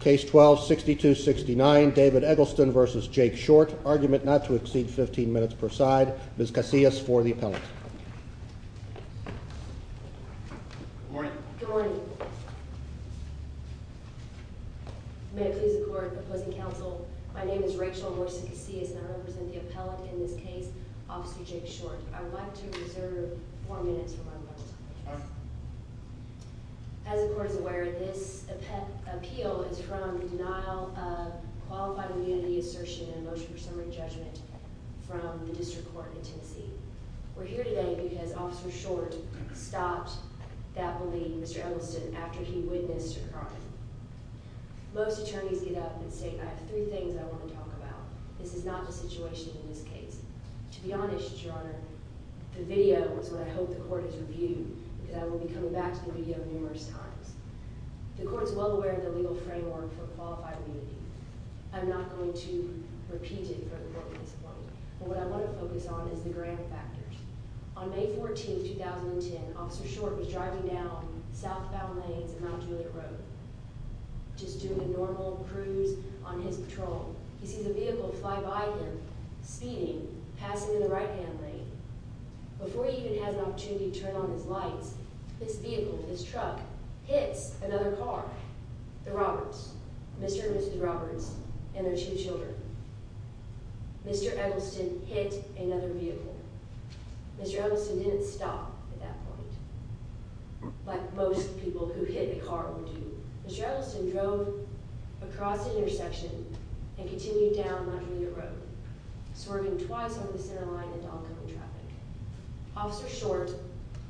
Case 12-6269 David Eggleston v. Jake Short Argument not to exceed 15 minutes per side. Ms. Casillas for the appellate. Good morning. Good morning. May it please the court, opposing counsel, my name is Rachel Morris Casillas and I represent the appellate in this case, Officer Jake Short. I would like to reserve four minutes for my moment. As the court is aware, this appeal is from the denial of qualified immunity assertion and motion for summary judgment from the district court in Tennessee. We're here today because Officer Short stopped that bully, Mr. Eggleston, after he witnessed her crime. Most attorneys get up and say, I have three things I want to talk about. This is not the situation in this case. To be honest, Your Honor, the video is what I hope the court has reviewed because I will be coming back to the video numerous times. The court is well aware of the legal framework for qualified immunity. I'm not going to repeat it for the court's discipline, but what I want to focus on is the grand factors. On May 14, 2010, Officer Short was driving down southbound lanes in Mount Julia Road just doing a normal cruise on his patrol. He sees a vehicle fly by him, speeding, passing in the right-hand lane. Before he even has an opportunity to turn on his lights, this vehicle, this truck, hits another car, the Roberts, Mr. and Mrs. Roberts and their two children. Mr. Eggleston hit another vehicle. Mr. Eggleston didn't stop at that point, like most people who hit a car would do. Mr. Eggleston drove across the intersection and continued down Mount Julia Road, swerving twice over the center line into oncoming traffic. Officer Short,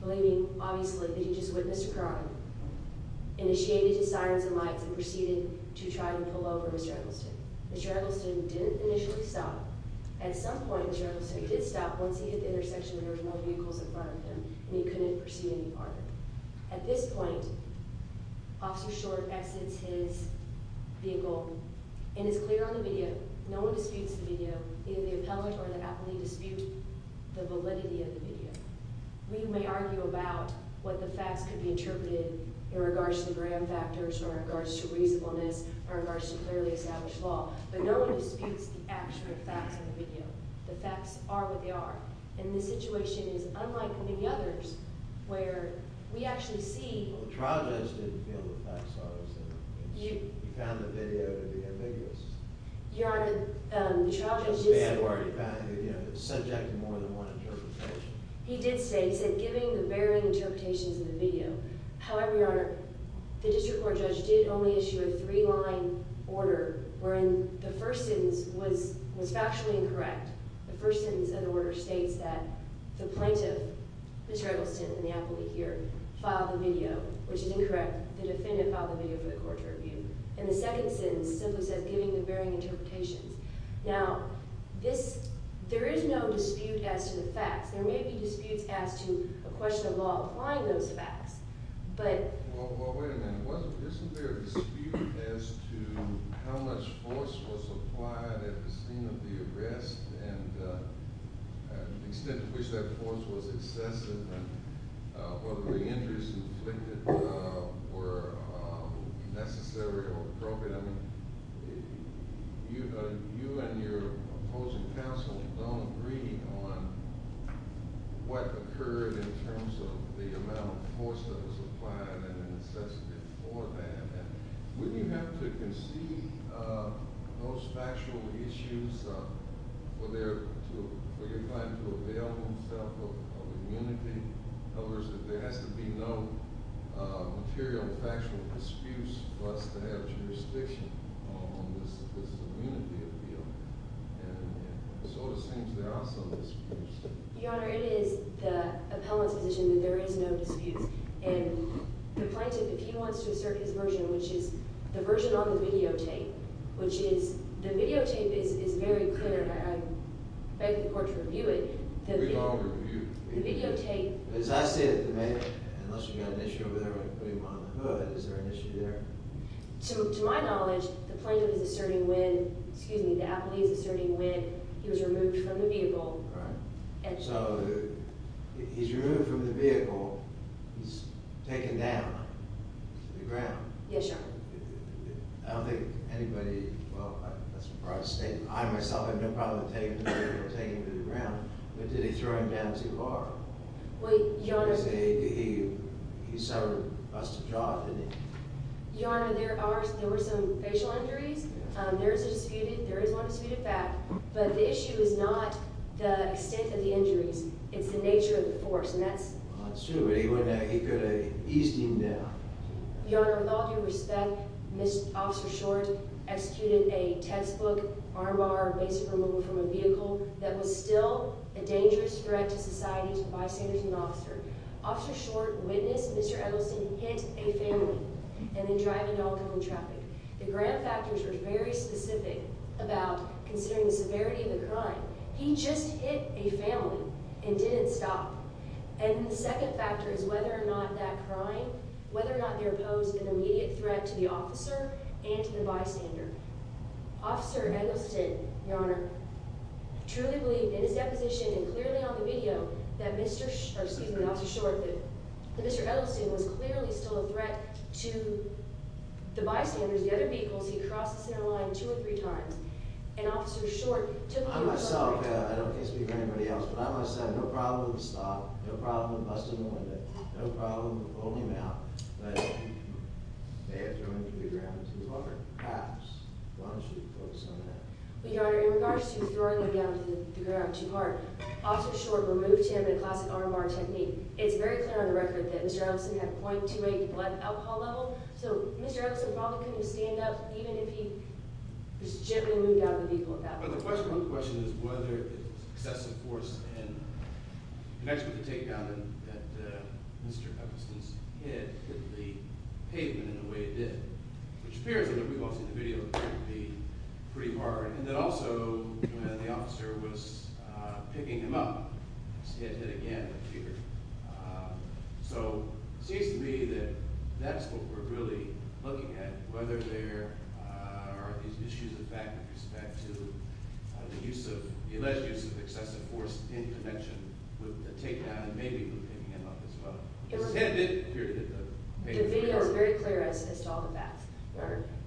believing, obviously, that he just witnessed a crime, initiated his sirens and lights and proceeded to try to pull over Mr. Eggleston. Mr. Eggleston didn't initially stop. At some point, Mr. Eggleston did stop once he hit the intersection where there was no vehicles in front of him, and he couldn't pursue any farther. At this point, Officer Short exits his vehicle and is clear on the video. No one disputes the video. Either the appellate or the appellate dispute the validity of the video. We may argue about what the facts could be interpreted in regards to the grand factors or in regards to reasonableness or in regards to clearly established law, but no one disputes the actual facts of the video. The facts are what they are, and the situation is unlike many others where we actually see... Well, the trial judge didn't feel the facts are what they are. He found the video to be ambiguous. Your Honor, the trial judge did say... Or he found it subject to more than one interpretation. He did say giving the varying interpretations of the video. However, Your Honor, the district court judge did only issue a three-line order wherein the first sentence was factually incorrect. The first sentence of the order states that the plaintiff, Mr. Eggleston and the appellate here, filed the video, which is incorrect. The defendant filed the video for the court to review. And the second sentence simply says giving the varying interpretations. Now, there is no dispute as to the facts. There may be disputes as to a question of law applying those facts, but... Well, wait a minute. Wasn't there a dispute as to how much force was applied at the scene of the arrest and the extent to which that force was excessive and whether the injuries inflicted were necessary or appropriate? I mean, you and your opposing counsel don't agree on what occurred in terms of the amount of force that was applied and excessive for that. Wouldn't you have to concede those factual issues for your client to avail himself of disputes for us to have jurisdiction on this immunity appeal? And it sort of seems there are some disputes. Your Honor, it is the appellant's position that there is no disputes. And the plaintiff, if he wants to assert his version, which is the version on the videotape, which is... The videotape is very clear. I beg the court to review it. We all review it. As I see it, unless you've got an issue with everybody putting him on the hood, is there an issue there? To my knowledge, the plaintiff is asserting when, excuse me, the appellee is asserting when he was removed from the vehicle. He's removed from the vehicle. He's taken down to the ground. Yes, Your Honor. I don't think anybody, well, that's a broad statement. I myself have no problem with taking him to the ground. But did he throw him down too far? Well, Your Honor... Because he suffered a busted jaw, didn't he? Your Honor, there were some facial injuries. There is a disputed... There is one disputed back. But the issue is not the extent of the injuries. It's the nature of the force, and that's... Well, that's true, but he could have eased him down. Your Honor, with all due respect, Mr. Officer Short executed a textbook RMR based removal from a vehicle that was still a dangerous threat to society to the bystanders and the officer. Officer Short witnessed Mr. Edelson hit a family and then drive into alcohol and traffic. The grand factors were very specific about considering the severity of the crime. He just hit a family and didn't stop. And the second factor is whether or not that crime, whether or not there posed an immediate threat to the officer and to the bystander. Officer Edelson, Your Honor, truly believed in his deposition and clearly on the video that Mr. Short, excuse me, Officer Short, that Mr. Edelson was clearly still a threat to the bystanders, the other vehicles he crossed the center line two or three times. I myself, I can't speak for anybody else, but I must say, no problem with stopping, no problem with busting the window, no problem with pulling him out, but they had thrown him to the ground too hard. Perhaps one should focus on that. Well, Your Honor, in regards to throwing him down to the ground too hard, Officer Short removed him in a classic RMR technique. It's very clear on the record that Mr. Edelson had 0.28 blood alcohol level, so Mr. Edelson probably couldn't stand up even if he just gently moved out of the vehicle at that point. But the question is whether excessive force and connection with the takedown that Mr. Edelson's hit hit the pavement in the way it did, which appears in the video to be pretty hard, and that also when the officer was picking him up, his head hit again with fear. So it seems to me that that's what we're really looking at, whether there are these issues of fact with respect to the alleged use of excessive force in connection with the takedown and maybe with picking him up as well. His head did appear to hit the pavement. The video is very clear as to all the facts.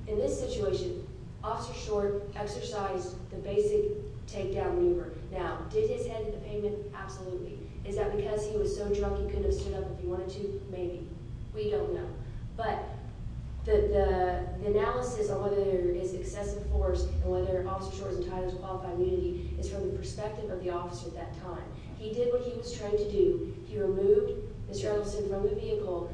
In this situation, Officer Short exercised the basic takedown maneuver. Now, did his head hit the pavement? Absolutely. Is that because he was so drunk he couldn't have stood up if he wanted to? Maybe. We don't know. But the analysis of whether there is excessive force and whether Officer Short's entitled to qualified immunity is from the perspective of the officer at that time. He did what he was trained to do. He removed Mr. Edelson from the vehicle,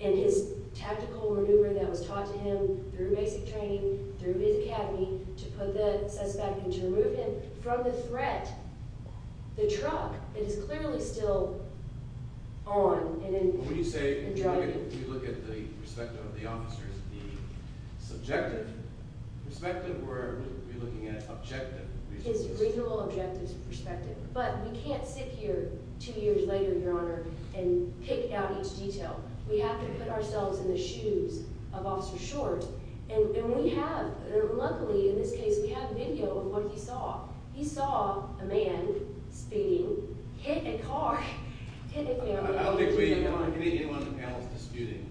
and his tactical maneuver that was taught to him through basic training, through his academy to put the suspect and to remove him from the threat, the truck, it is clearly still on and driving. When you say, when you look at the perspective of the officers, the subjective perspective, we're looking at objective. His legal objective's perspective. But we can't sit here two years later, Your Honor, and pick out each detail. We have to put ourselves in the shoes of Officer Short. And we have, luckily in this case, we have video of what he saw. He saw a man speeding, hit a car, hit a vehicle. I don't think we want to get anyone else disputing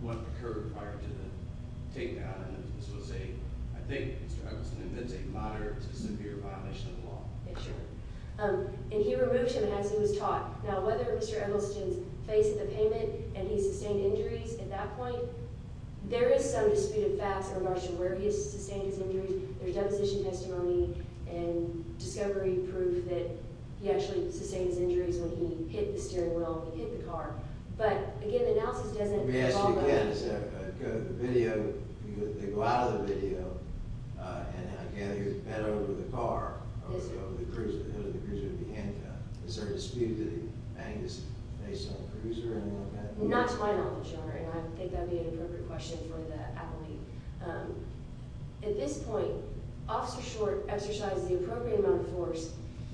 what occurred prior to the takedown. And this was a, I think, Mr. Edelson admits a moderate to severe violation of the law. And he removed him as he was taught. Now, whether Mr. Edelson's face at the pavement and he sustained injuries at that point, there is some disputed facts in regards to where he has sustained his injuries. There's deposition testimony and discovery proof that he actually sustained his injuries when he hit the steering wheel and hit the car. But, again, the analysis doesn't follow. Let me ask you again, is that, the video, they go out of the video, and again, he was bent over the car, over the cruiser, over the cruiser of the handcuff. Is there a dispute that he banged his face on the cruiser and all that? Not to my knowledge, Your Honor, and I think that would be an appropriate question for the appellee. At this point, Officer Short exercised the appropriate amount of force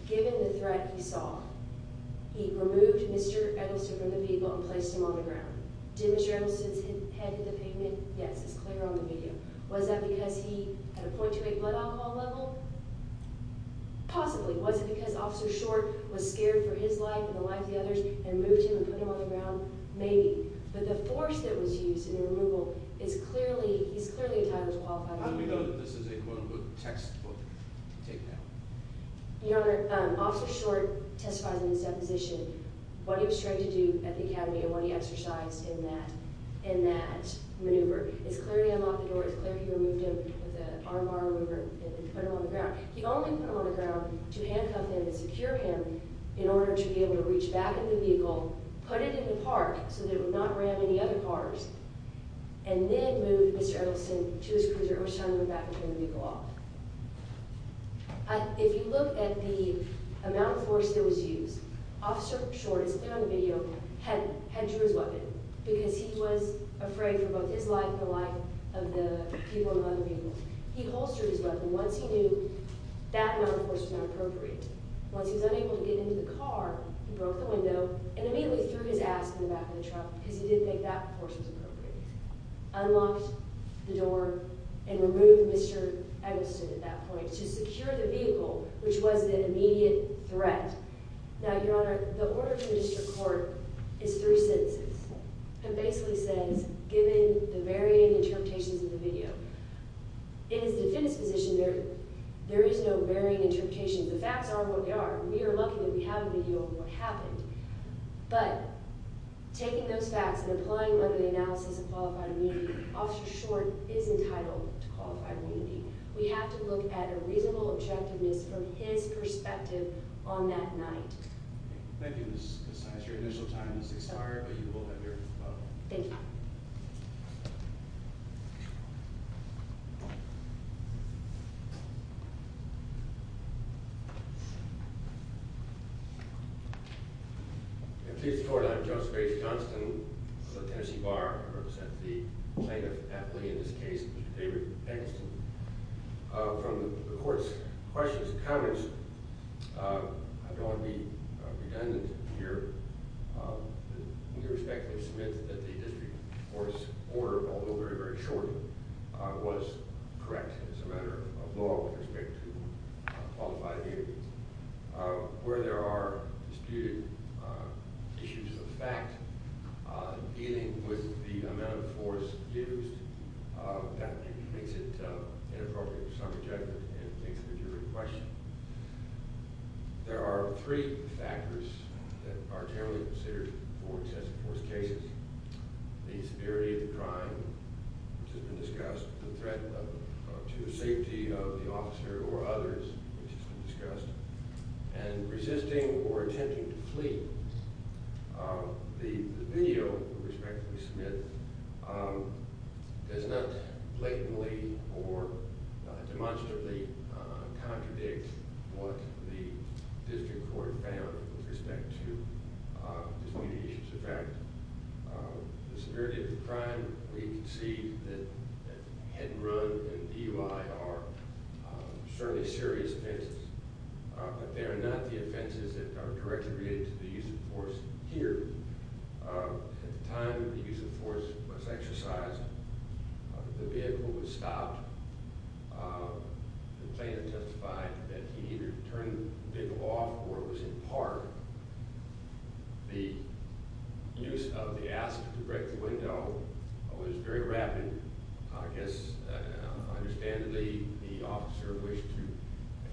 given the threat he saw. He removed Mr. Edelson from the vehicle and placed him on the ground. Did Mr. Edelson's head hit the pavement? Yes, it's clear on the video. Was that because he had a .28 blood alcohol level? Possibly. Was it because Officer Short was scared for his life and the lives of the others and moved him and put him on the ground? Maybe. But the force that was used in the removal is clearly, he's clearly entitled to qualify for removal. How do we know that this is a quote-unquote textbook take down? Your Honor, Officer Short testifies in his deposition what he was trained to do at the academy and what he exercised in that, in that maneuver. It's clear he unlocked the door, it's clear he removed him with a RMR remover and then put him on the ground. He only put him on the ground to handcuff him and secure him in order to be able to reach back in the vehicle, put it in the park so that it would not ram any other cars, and then move Mr. Edelson to his cruiser, which is how he went back and pulled the vehicle off. If you look at the amount of force that was used, Officer Short, it's clear on the video, had drew his weapon because he was afraid for both his life and the life of the people and other people. He holstered his weapon. Once he knew that amount of force was not appropriate, once he was unable to get into the car, he broke the window and immediately threw his ass in the back of the truck because he didn't think that force was appropriate. Unlocked the door and removed Mr. Edelson at that point to secure the vehicle, which was the immediate threat. Now, Your Honor, the order to the district court is three sentences. It basically says, given the varying interpretations of the video, in his defense position, there is no varying interpretation. The facts are what they are. We are lucky that we have a video of what happened. But taking those facts and applying them to the analysis of qualified immunity, Officer Short is entitled to qualified immunity. We have to look at a reasonable objectiveness from his perspective on that night. Thank you, Ms. Saez. Your initial time has expired, but you will have your vote. Thank you. I'm pleased to report I'm Judge Grace Johnston of the Tennessee Bar. I represent the plaintiff, David Eggleston. From the court's questions and comments, I don't want to be redundant here. We respectfully submit that the district court's order, although very, very short, was correct as a matter of law with respect to qualified immunity. Where there are disputed issues of fact dealing with the amount of force used, that makes it inappropriate for some judgment and makes it a different question. There are three factors that are generally considered for excessive force cases. The severity of the crime, which has been discussed, the threat to the safety of the officer or others, which has been discussed, and resisting or attempting to flee. The video we respectfully submit does not blatantly or demonstrably contradict what the district court found with respect to disputed issues of fact. The severity of the crime, we concede that head and run and DUI are certainly serious offenses, but they are not the offenses that are directly related to the use of force here. At the time the use of force was exercised, the vehicle was stopped. The plaintiff testified that he either turned the vehicle off or it was in park. The use of the ask to break the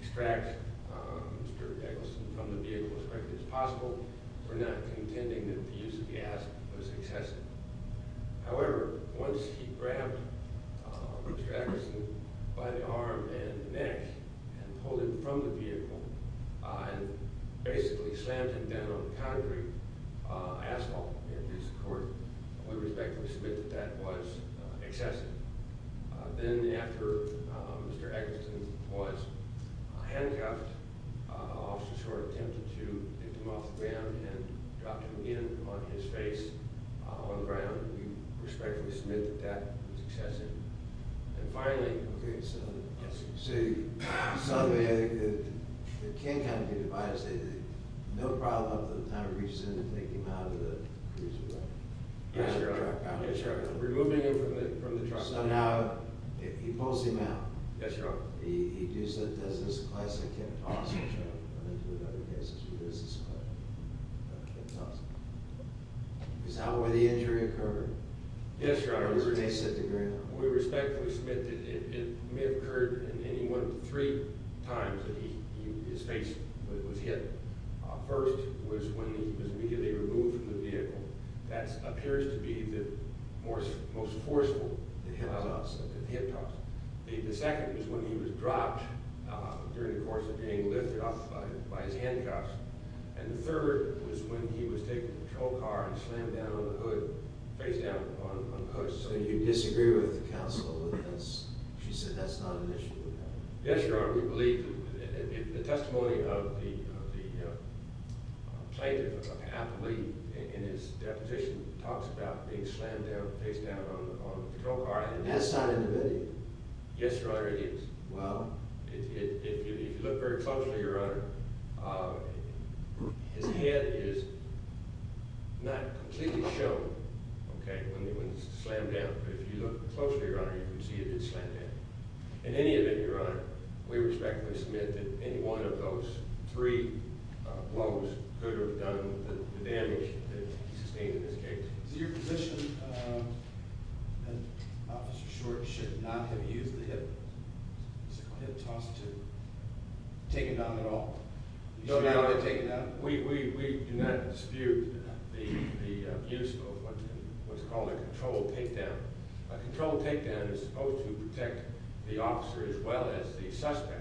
extract Mr. Eggleston from the vehicle as quickly as possible for not contending that the use of the ask was excessive. However, once he grabbed Mr. Eggleston by the arm and neck and pulled him from the vehicle and basically slammed him down on concrete asphalt in his handcuffed, Officer Short attempted to take him off the ground and dropped him in on his face on the ground. We respectfully submit that that was excessive. And finally... Okay, so... Yes, sir. So, the King County Divider stated that no problem at the time reaches in to take him out of the cruiser, right? Yes, Your Honor. Yes, Your Honor. So now, he pulls him out. Yes, Your Honor. He does this classic hip toss, which I've run into in other cases where he does this classic hip toss. How were the injuries occurred? Yes, Your Honor. Or were they set to ground? We respectfully submit that it may have occurred in any one of the three times that his face was hit. First was when he was immediately removed from the vehicle. That appears to be the most forceful hip toss. The second was when he was dropped during the course of being lifted off by his handcuffs. And the third was when he was taken to a patrol car and slammed down on the hood, face down on the hood. So you disagree with the counsel? She said that's not an issue? Yes, Your Honor. We believe that the testimony of the plaintiff, Applee, in his deposition talks about being slammed down face down on the patrol car. That's not in the video? Yes, Your Honor, it is. Well? If you look very closely, Your Honor, his head is not completely shown, okay, when he was slammed down. But if you look closely, Your Honor, you can see that it's slammed down. In any event, Your Honor, we respectfully submit that any one of those three blows could have done the damage that he sustained in this case. Is it your position that Officer Short should not have used the hip toss to take him down at all? No, Your Honor, we do not dispute the use of what's called a controlled takedown. A controlled takedown is supposed to protect the officer as well as the suspect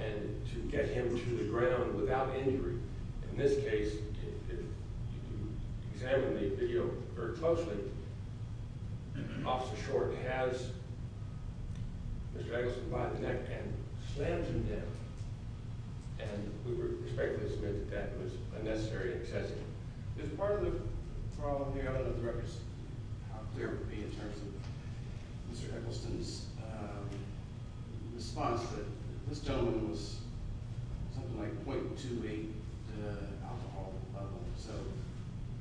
and to take him to the ground without injury. In this case, if you examine the video very closely, Officer Short has Mr. Eccleston by the neck and slams him down. And we respectfully submit that that was unnecessary and excessive. Is part of the problem here, I don't know how clear it would be in terms of Mr. Eccleston's response, but this gentleman was something like 0.28 alcohol level, so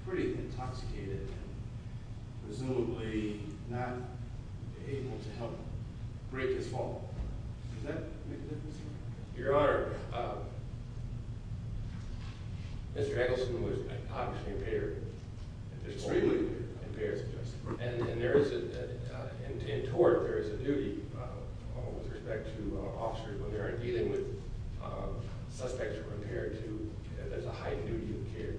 pretty intoxicated and presumably not able to help break his fall. Does that make a difference? Your Honor, Mr. Eccleston was obviously impaired, extremely impaired, and there is, in tort, there is a duty with respect to officers when they are dealing with suspects who are impaired that there is a high duty of care.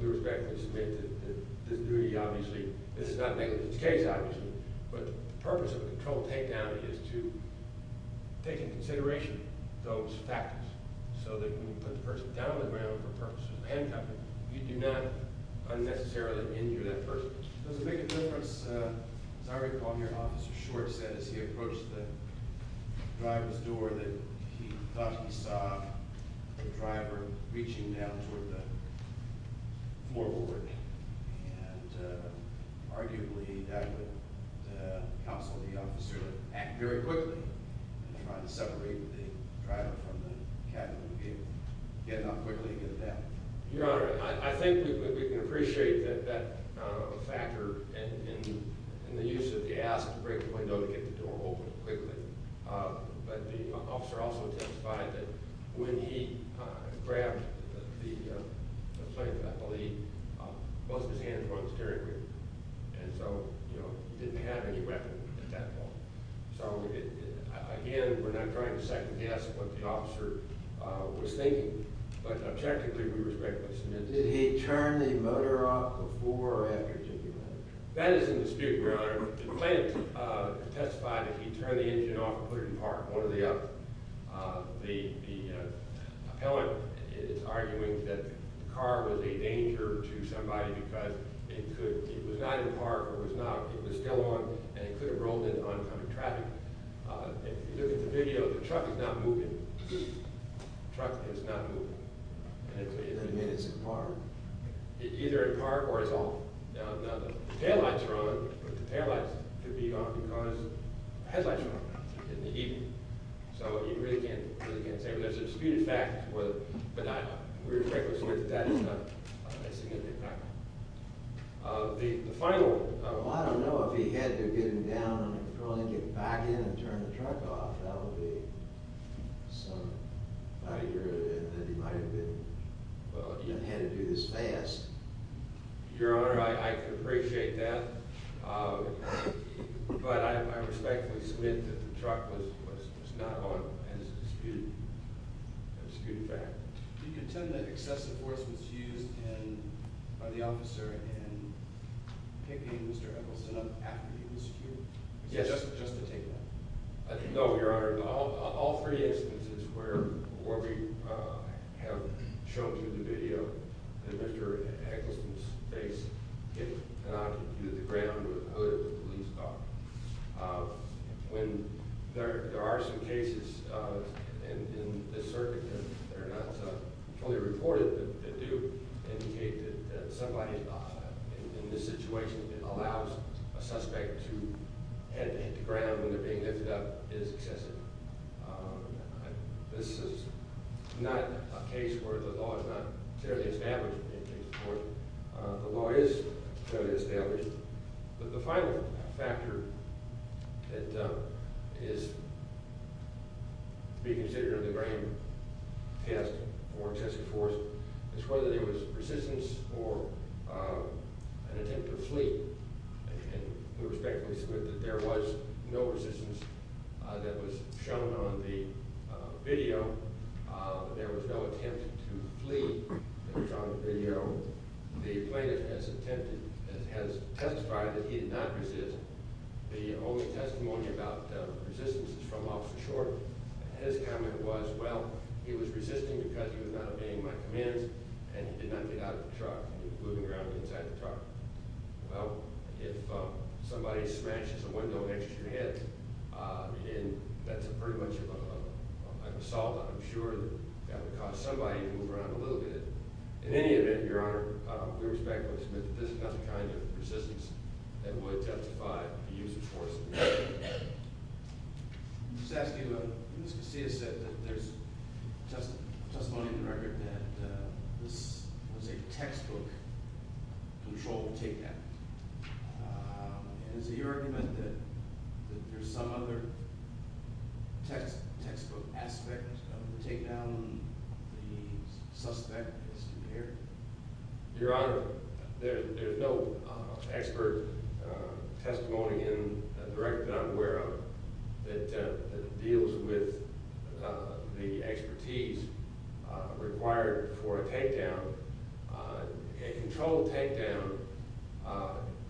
We respectfully submit that this duty obviously, this is not a controlled takedown, it is to take into consideration those factors so that when you put the person down on the ground for purposes of handcuffing, you do not unnecessarily injure that person. Does it make a difference, as I recall here, Officer Short said as he approached the driver's door that he thought he saw the driver reaching down toward the floorboard and arguably that counseled the officer to act very quickly and try to separate the driver from the cabin and get him out quickly and get him down. Your Honor, I think we can appreciate that factor in the use of the ask to break the window to get the door open quickly, but the officer also testified that when he grabbed the plate, I believe, most of his hands were on the steering wheel, and so he didn't have any weapon at that point. So again, we're not trying to second guess what the officer was thinking, but objectively we respectfully submit that. Did he turn the motor off before or after taking that picture? That is in dispute, Your Honor. The plaintiff testified that he turned the engine off and is arguing that the car was a danger to somebody because it was not in park, it was still on, and it could have rolled into oncoming traffic. If you look at the video, the truck is not moving. The truck is not moving. Does that mean it's in park? It's either in park or it's off. Now, the taillights are on, but the taillights could be off because the headlights are on in the evening. So you really can't say. There's a disputed fact, but we respectfully submit that it's in park. The final... Well, I don't know if he had to get him down on the control and get him back in and turn the truck off. That would be some idea that he might have been... Well... Had to do this fast. Your Honor, I could appreciate that, but I respectfully submit that the truck was not on, and it's a disputed fact. Do you contend that excessive force was used by the officer in picking Mr. Eggleston up after he was secured? Yes. Just to take that? No, Your Honor. There are all three instances where we have shown through the video that Mr. Eggleston's face did not hit the ground with the police car. There are some cases in this circuit that are not fully reported that do indicate that somebody in this situation that allows a suspect to hit the ground when they're being lifted up is excessive. This is not a case where the law is not fairly established. The law is fairly established, but the final factor that is to be considered in the grand test for excessive force is whether there was resistance or an attempt to flee, and I respectfully submit that there was no resistance that was shown on the video. There was no attempt to flee that was shown on the video. The plaintiff has testified that he did not resist. The only testimony about resistance is from Officer Short. His comment was, well, he was resisting because he was not obeying my commands, and he did not get out of the truck. He was moving around inside the truck. Well, if somebody smashes a window next to your head, that's pretty much an assault. I'm sure that would cause somebody to move around a little bit. In any event, Your Honor, we respectfully submit that this is not the kind of resistance that would testify to use of force. I'm just asking about – Ms. Casillas said that there's testimony in the record that this was a textbook controlled takedown. Is it your argument that there's some other textbook aspect of the takedown the suspect has compared? Your Honor, there's no expert testimony in the record that I'm aware of that deals with the expertise required for a takedown. A controlled takedown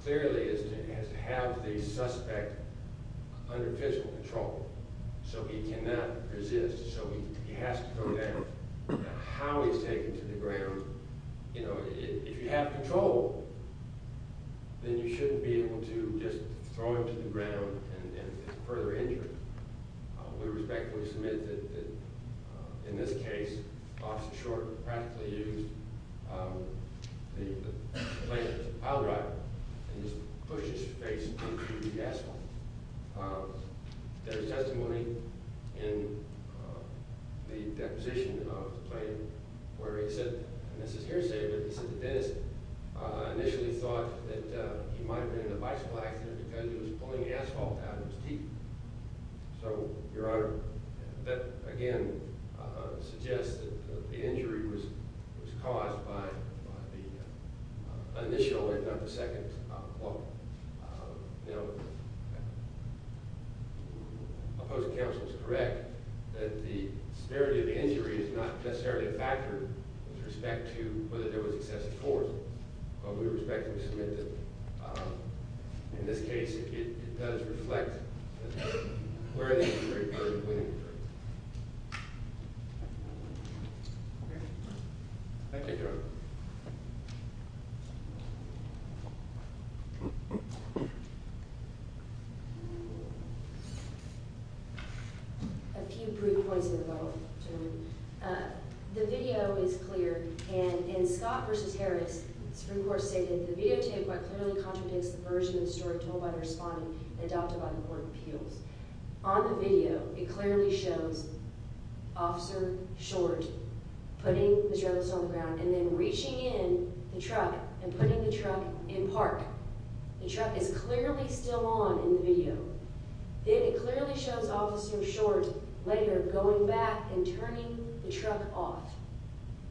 clearly has to have the suspect under physical control, so he cannot resist, so he has to go down. Now, how he's taken to the ground, you know, if you have control, then you shouldn't be able to just throw him to the ground and further injure him. We respectfully submit that, in this case, Officer Short practically used the blade of his pile driver and just pushed his face into the gas line. There's testimony in the deposition of the claim where he said – and this is hearsay, but he said the dentist initially thought that he might have been in a bicycle accident because he was pulling asphalt out of his teeth. So, Your Honor, that again suggests that the injury was caused by the initial impact of the second blow. Now, opposing counsel is correct that the severity of the injury is not necessarily a factor with respect to whether there was excessive force, but we respectfully submit that, in this case, it does reflect where the injury occurred and when the injury occurred. Thank you, Your Honor. A few brief points in the middle. The video is clear, and in Scott v. Harris, Supreme Court stated, The videotape quite clearly contradicts the version of the story told by the respondent and adopted by the Court of Appeals. On the video, it clearly shows Officer Short putting the driver on the ground and then The truck is clearly still on in the video. Then it clearly shows Officer Short later going back and turning the truck off.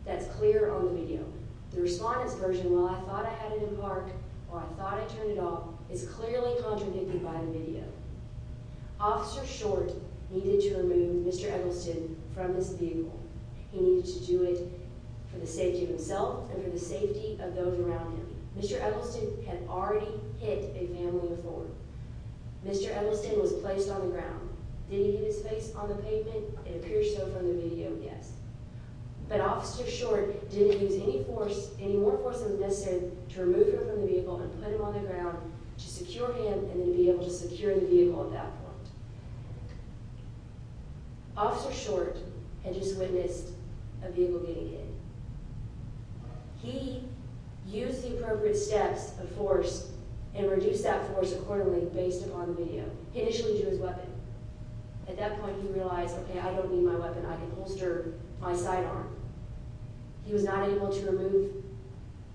That's clear on the video. The respondent's version, Well, I thought I had it in park, or I thought I turned it off, is clearly contradicted by the video. Officer Short needed to remove Mr. Eggleston from his vehicle. He needed to do it for the safety of himself and for the safety of those around him. Mr. Eggleston had already hit a family of four. Mr. Eggleston was placed on the ground. Did he hit his face on the pavement? It appears so from the video, yes. But Officer Short didn't use any more force than was necessary to remove him from the vehicle and put him on the ground to secure him and then to be able to secure the vehicle at that point. Officer Short had just witnessed a vehicle getting hit. He used the appropriate steps of force and reduced that force accordingly based upon the video. He initially drew his weapon. At that point, he realized, Okay, I don't need my weapon. I can holster my sidearm. He was not able to remove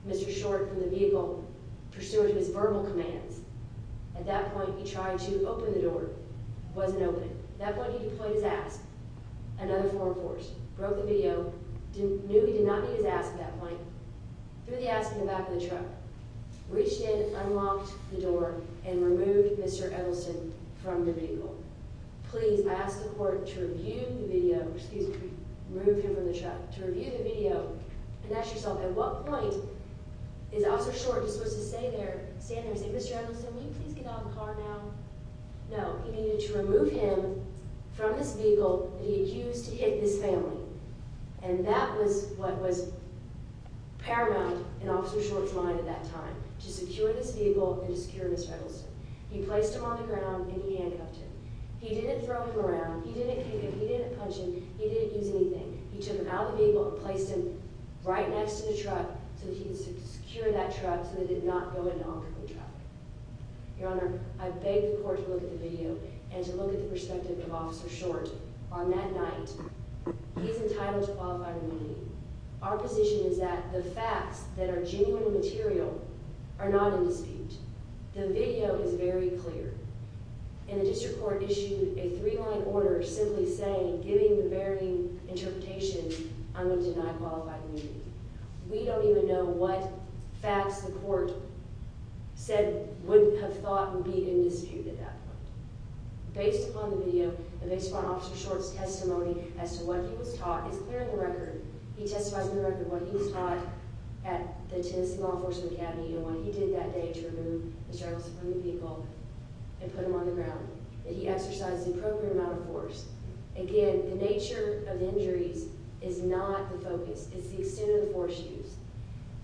Mr. Short from the vehicle pursuant to his verbal commands. At that point, he tried to open the door. It wasn't open. At that point, he deployed his ass, another form of force. Broke the video. Knew he did not need his ass at that point. Threw the ass in the back of the truck. Reached in, unlocked the door, and removed Mr. Eggleston from the vehicle. Please ask the court to review the video. Excuse me. Remove him from the truck. To review the video and ask yourself, At what point is Officer Short supposed to stand there and say, Mr. Eggleston, will you please get out of the car now? No. He needed to remove him from this vehicle that he had used to hit his family. And that was what was paramount in Officer Short's mind at that time, to secure this vehicle and to secure Mr. Eggleston. He placed him on the ground, and he handcuffed him. He didn't throw him around. He didn't kick him. He didn't punch him. He didn't use anything. He took him out of the vehicle and placed him right next to the truck so that he could secure that truck so that it did not go into off-road traffic. Your Honor, I beg the court to look at the video and to look at the perspective of Officer Short on that night. He is entitled to qualified immunity. Our position is that the facts that are genuine and material are not in dispute. The video is very clear. And the district court issued a three-line order simply saying, giving the very interpretation, I'm going to deny qualified immunity. We don't even know what facts the court said, wouldn't have thought would be in dispute at that point. Based upon the video and based upon Officer Short's testimony as to what he was taught is clear in the record. He testifies in the record what he was taught at the Tennessee Law Enforcement Academy and what he did that day to remove Mr. Eggleston from the vehicle and put him on the ground, that he exercised the appropriate amount of force. Again, the nature of the injuries is not the focus. It's the extent of the force used.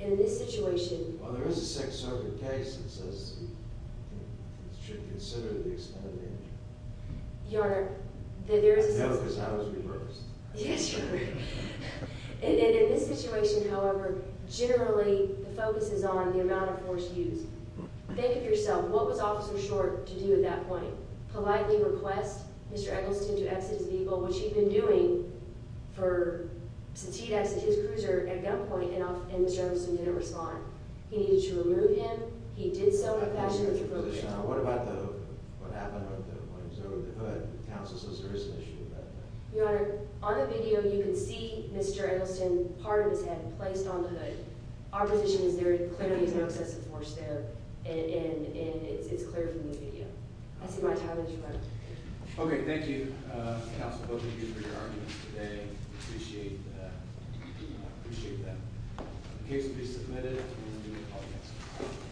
And in this situation... Well, there is a second circuit case that says it should consider the extent of the injury. Your Honor, there is a... No, because I was reversed. Yes, Your Honor. And in this situation, however, generally the focus is on the amount of force used. Think of yourself. What was Officer Short to do at that point? Politely request Mr. Eggleston to exit his vehicle, which he'd been doing since he'd exited his cruiser at gunpoint, and Mr. Eggleston didn't respond. He needed to remove him. He did so in a fashion that was appropriate. What about the... What happened at that point? Was there a hood? Counsel says there is an issue with that. Your Honor, on the video you can see Mr. Eggleston, part of his head placed on the hood. Our position is there clearly is no excessive force there, and it's clear from the video. I see my time has run out. Okay, thank you, Counsel. Both of you for your arguments today. I appreciate that. The case will be submitted, and we will call the hearing.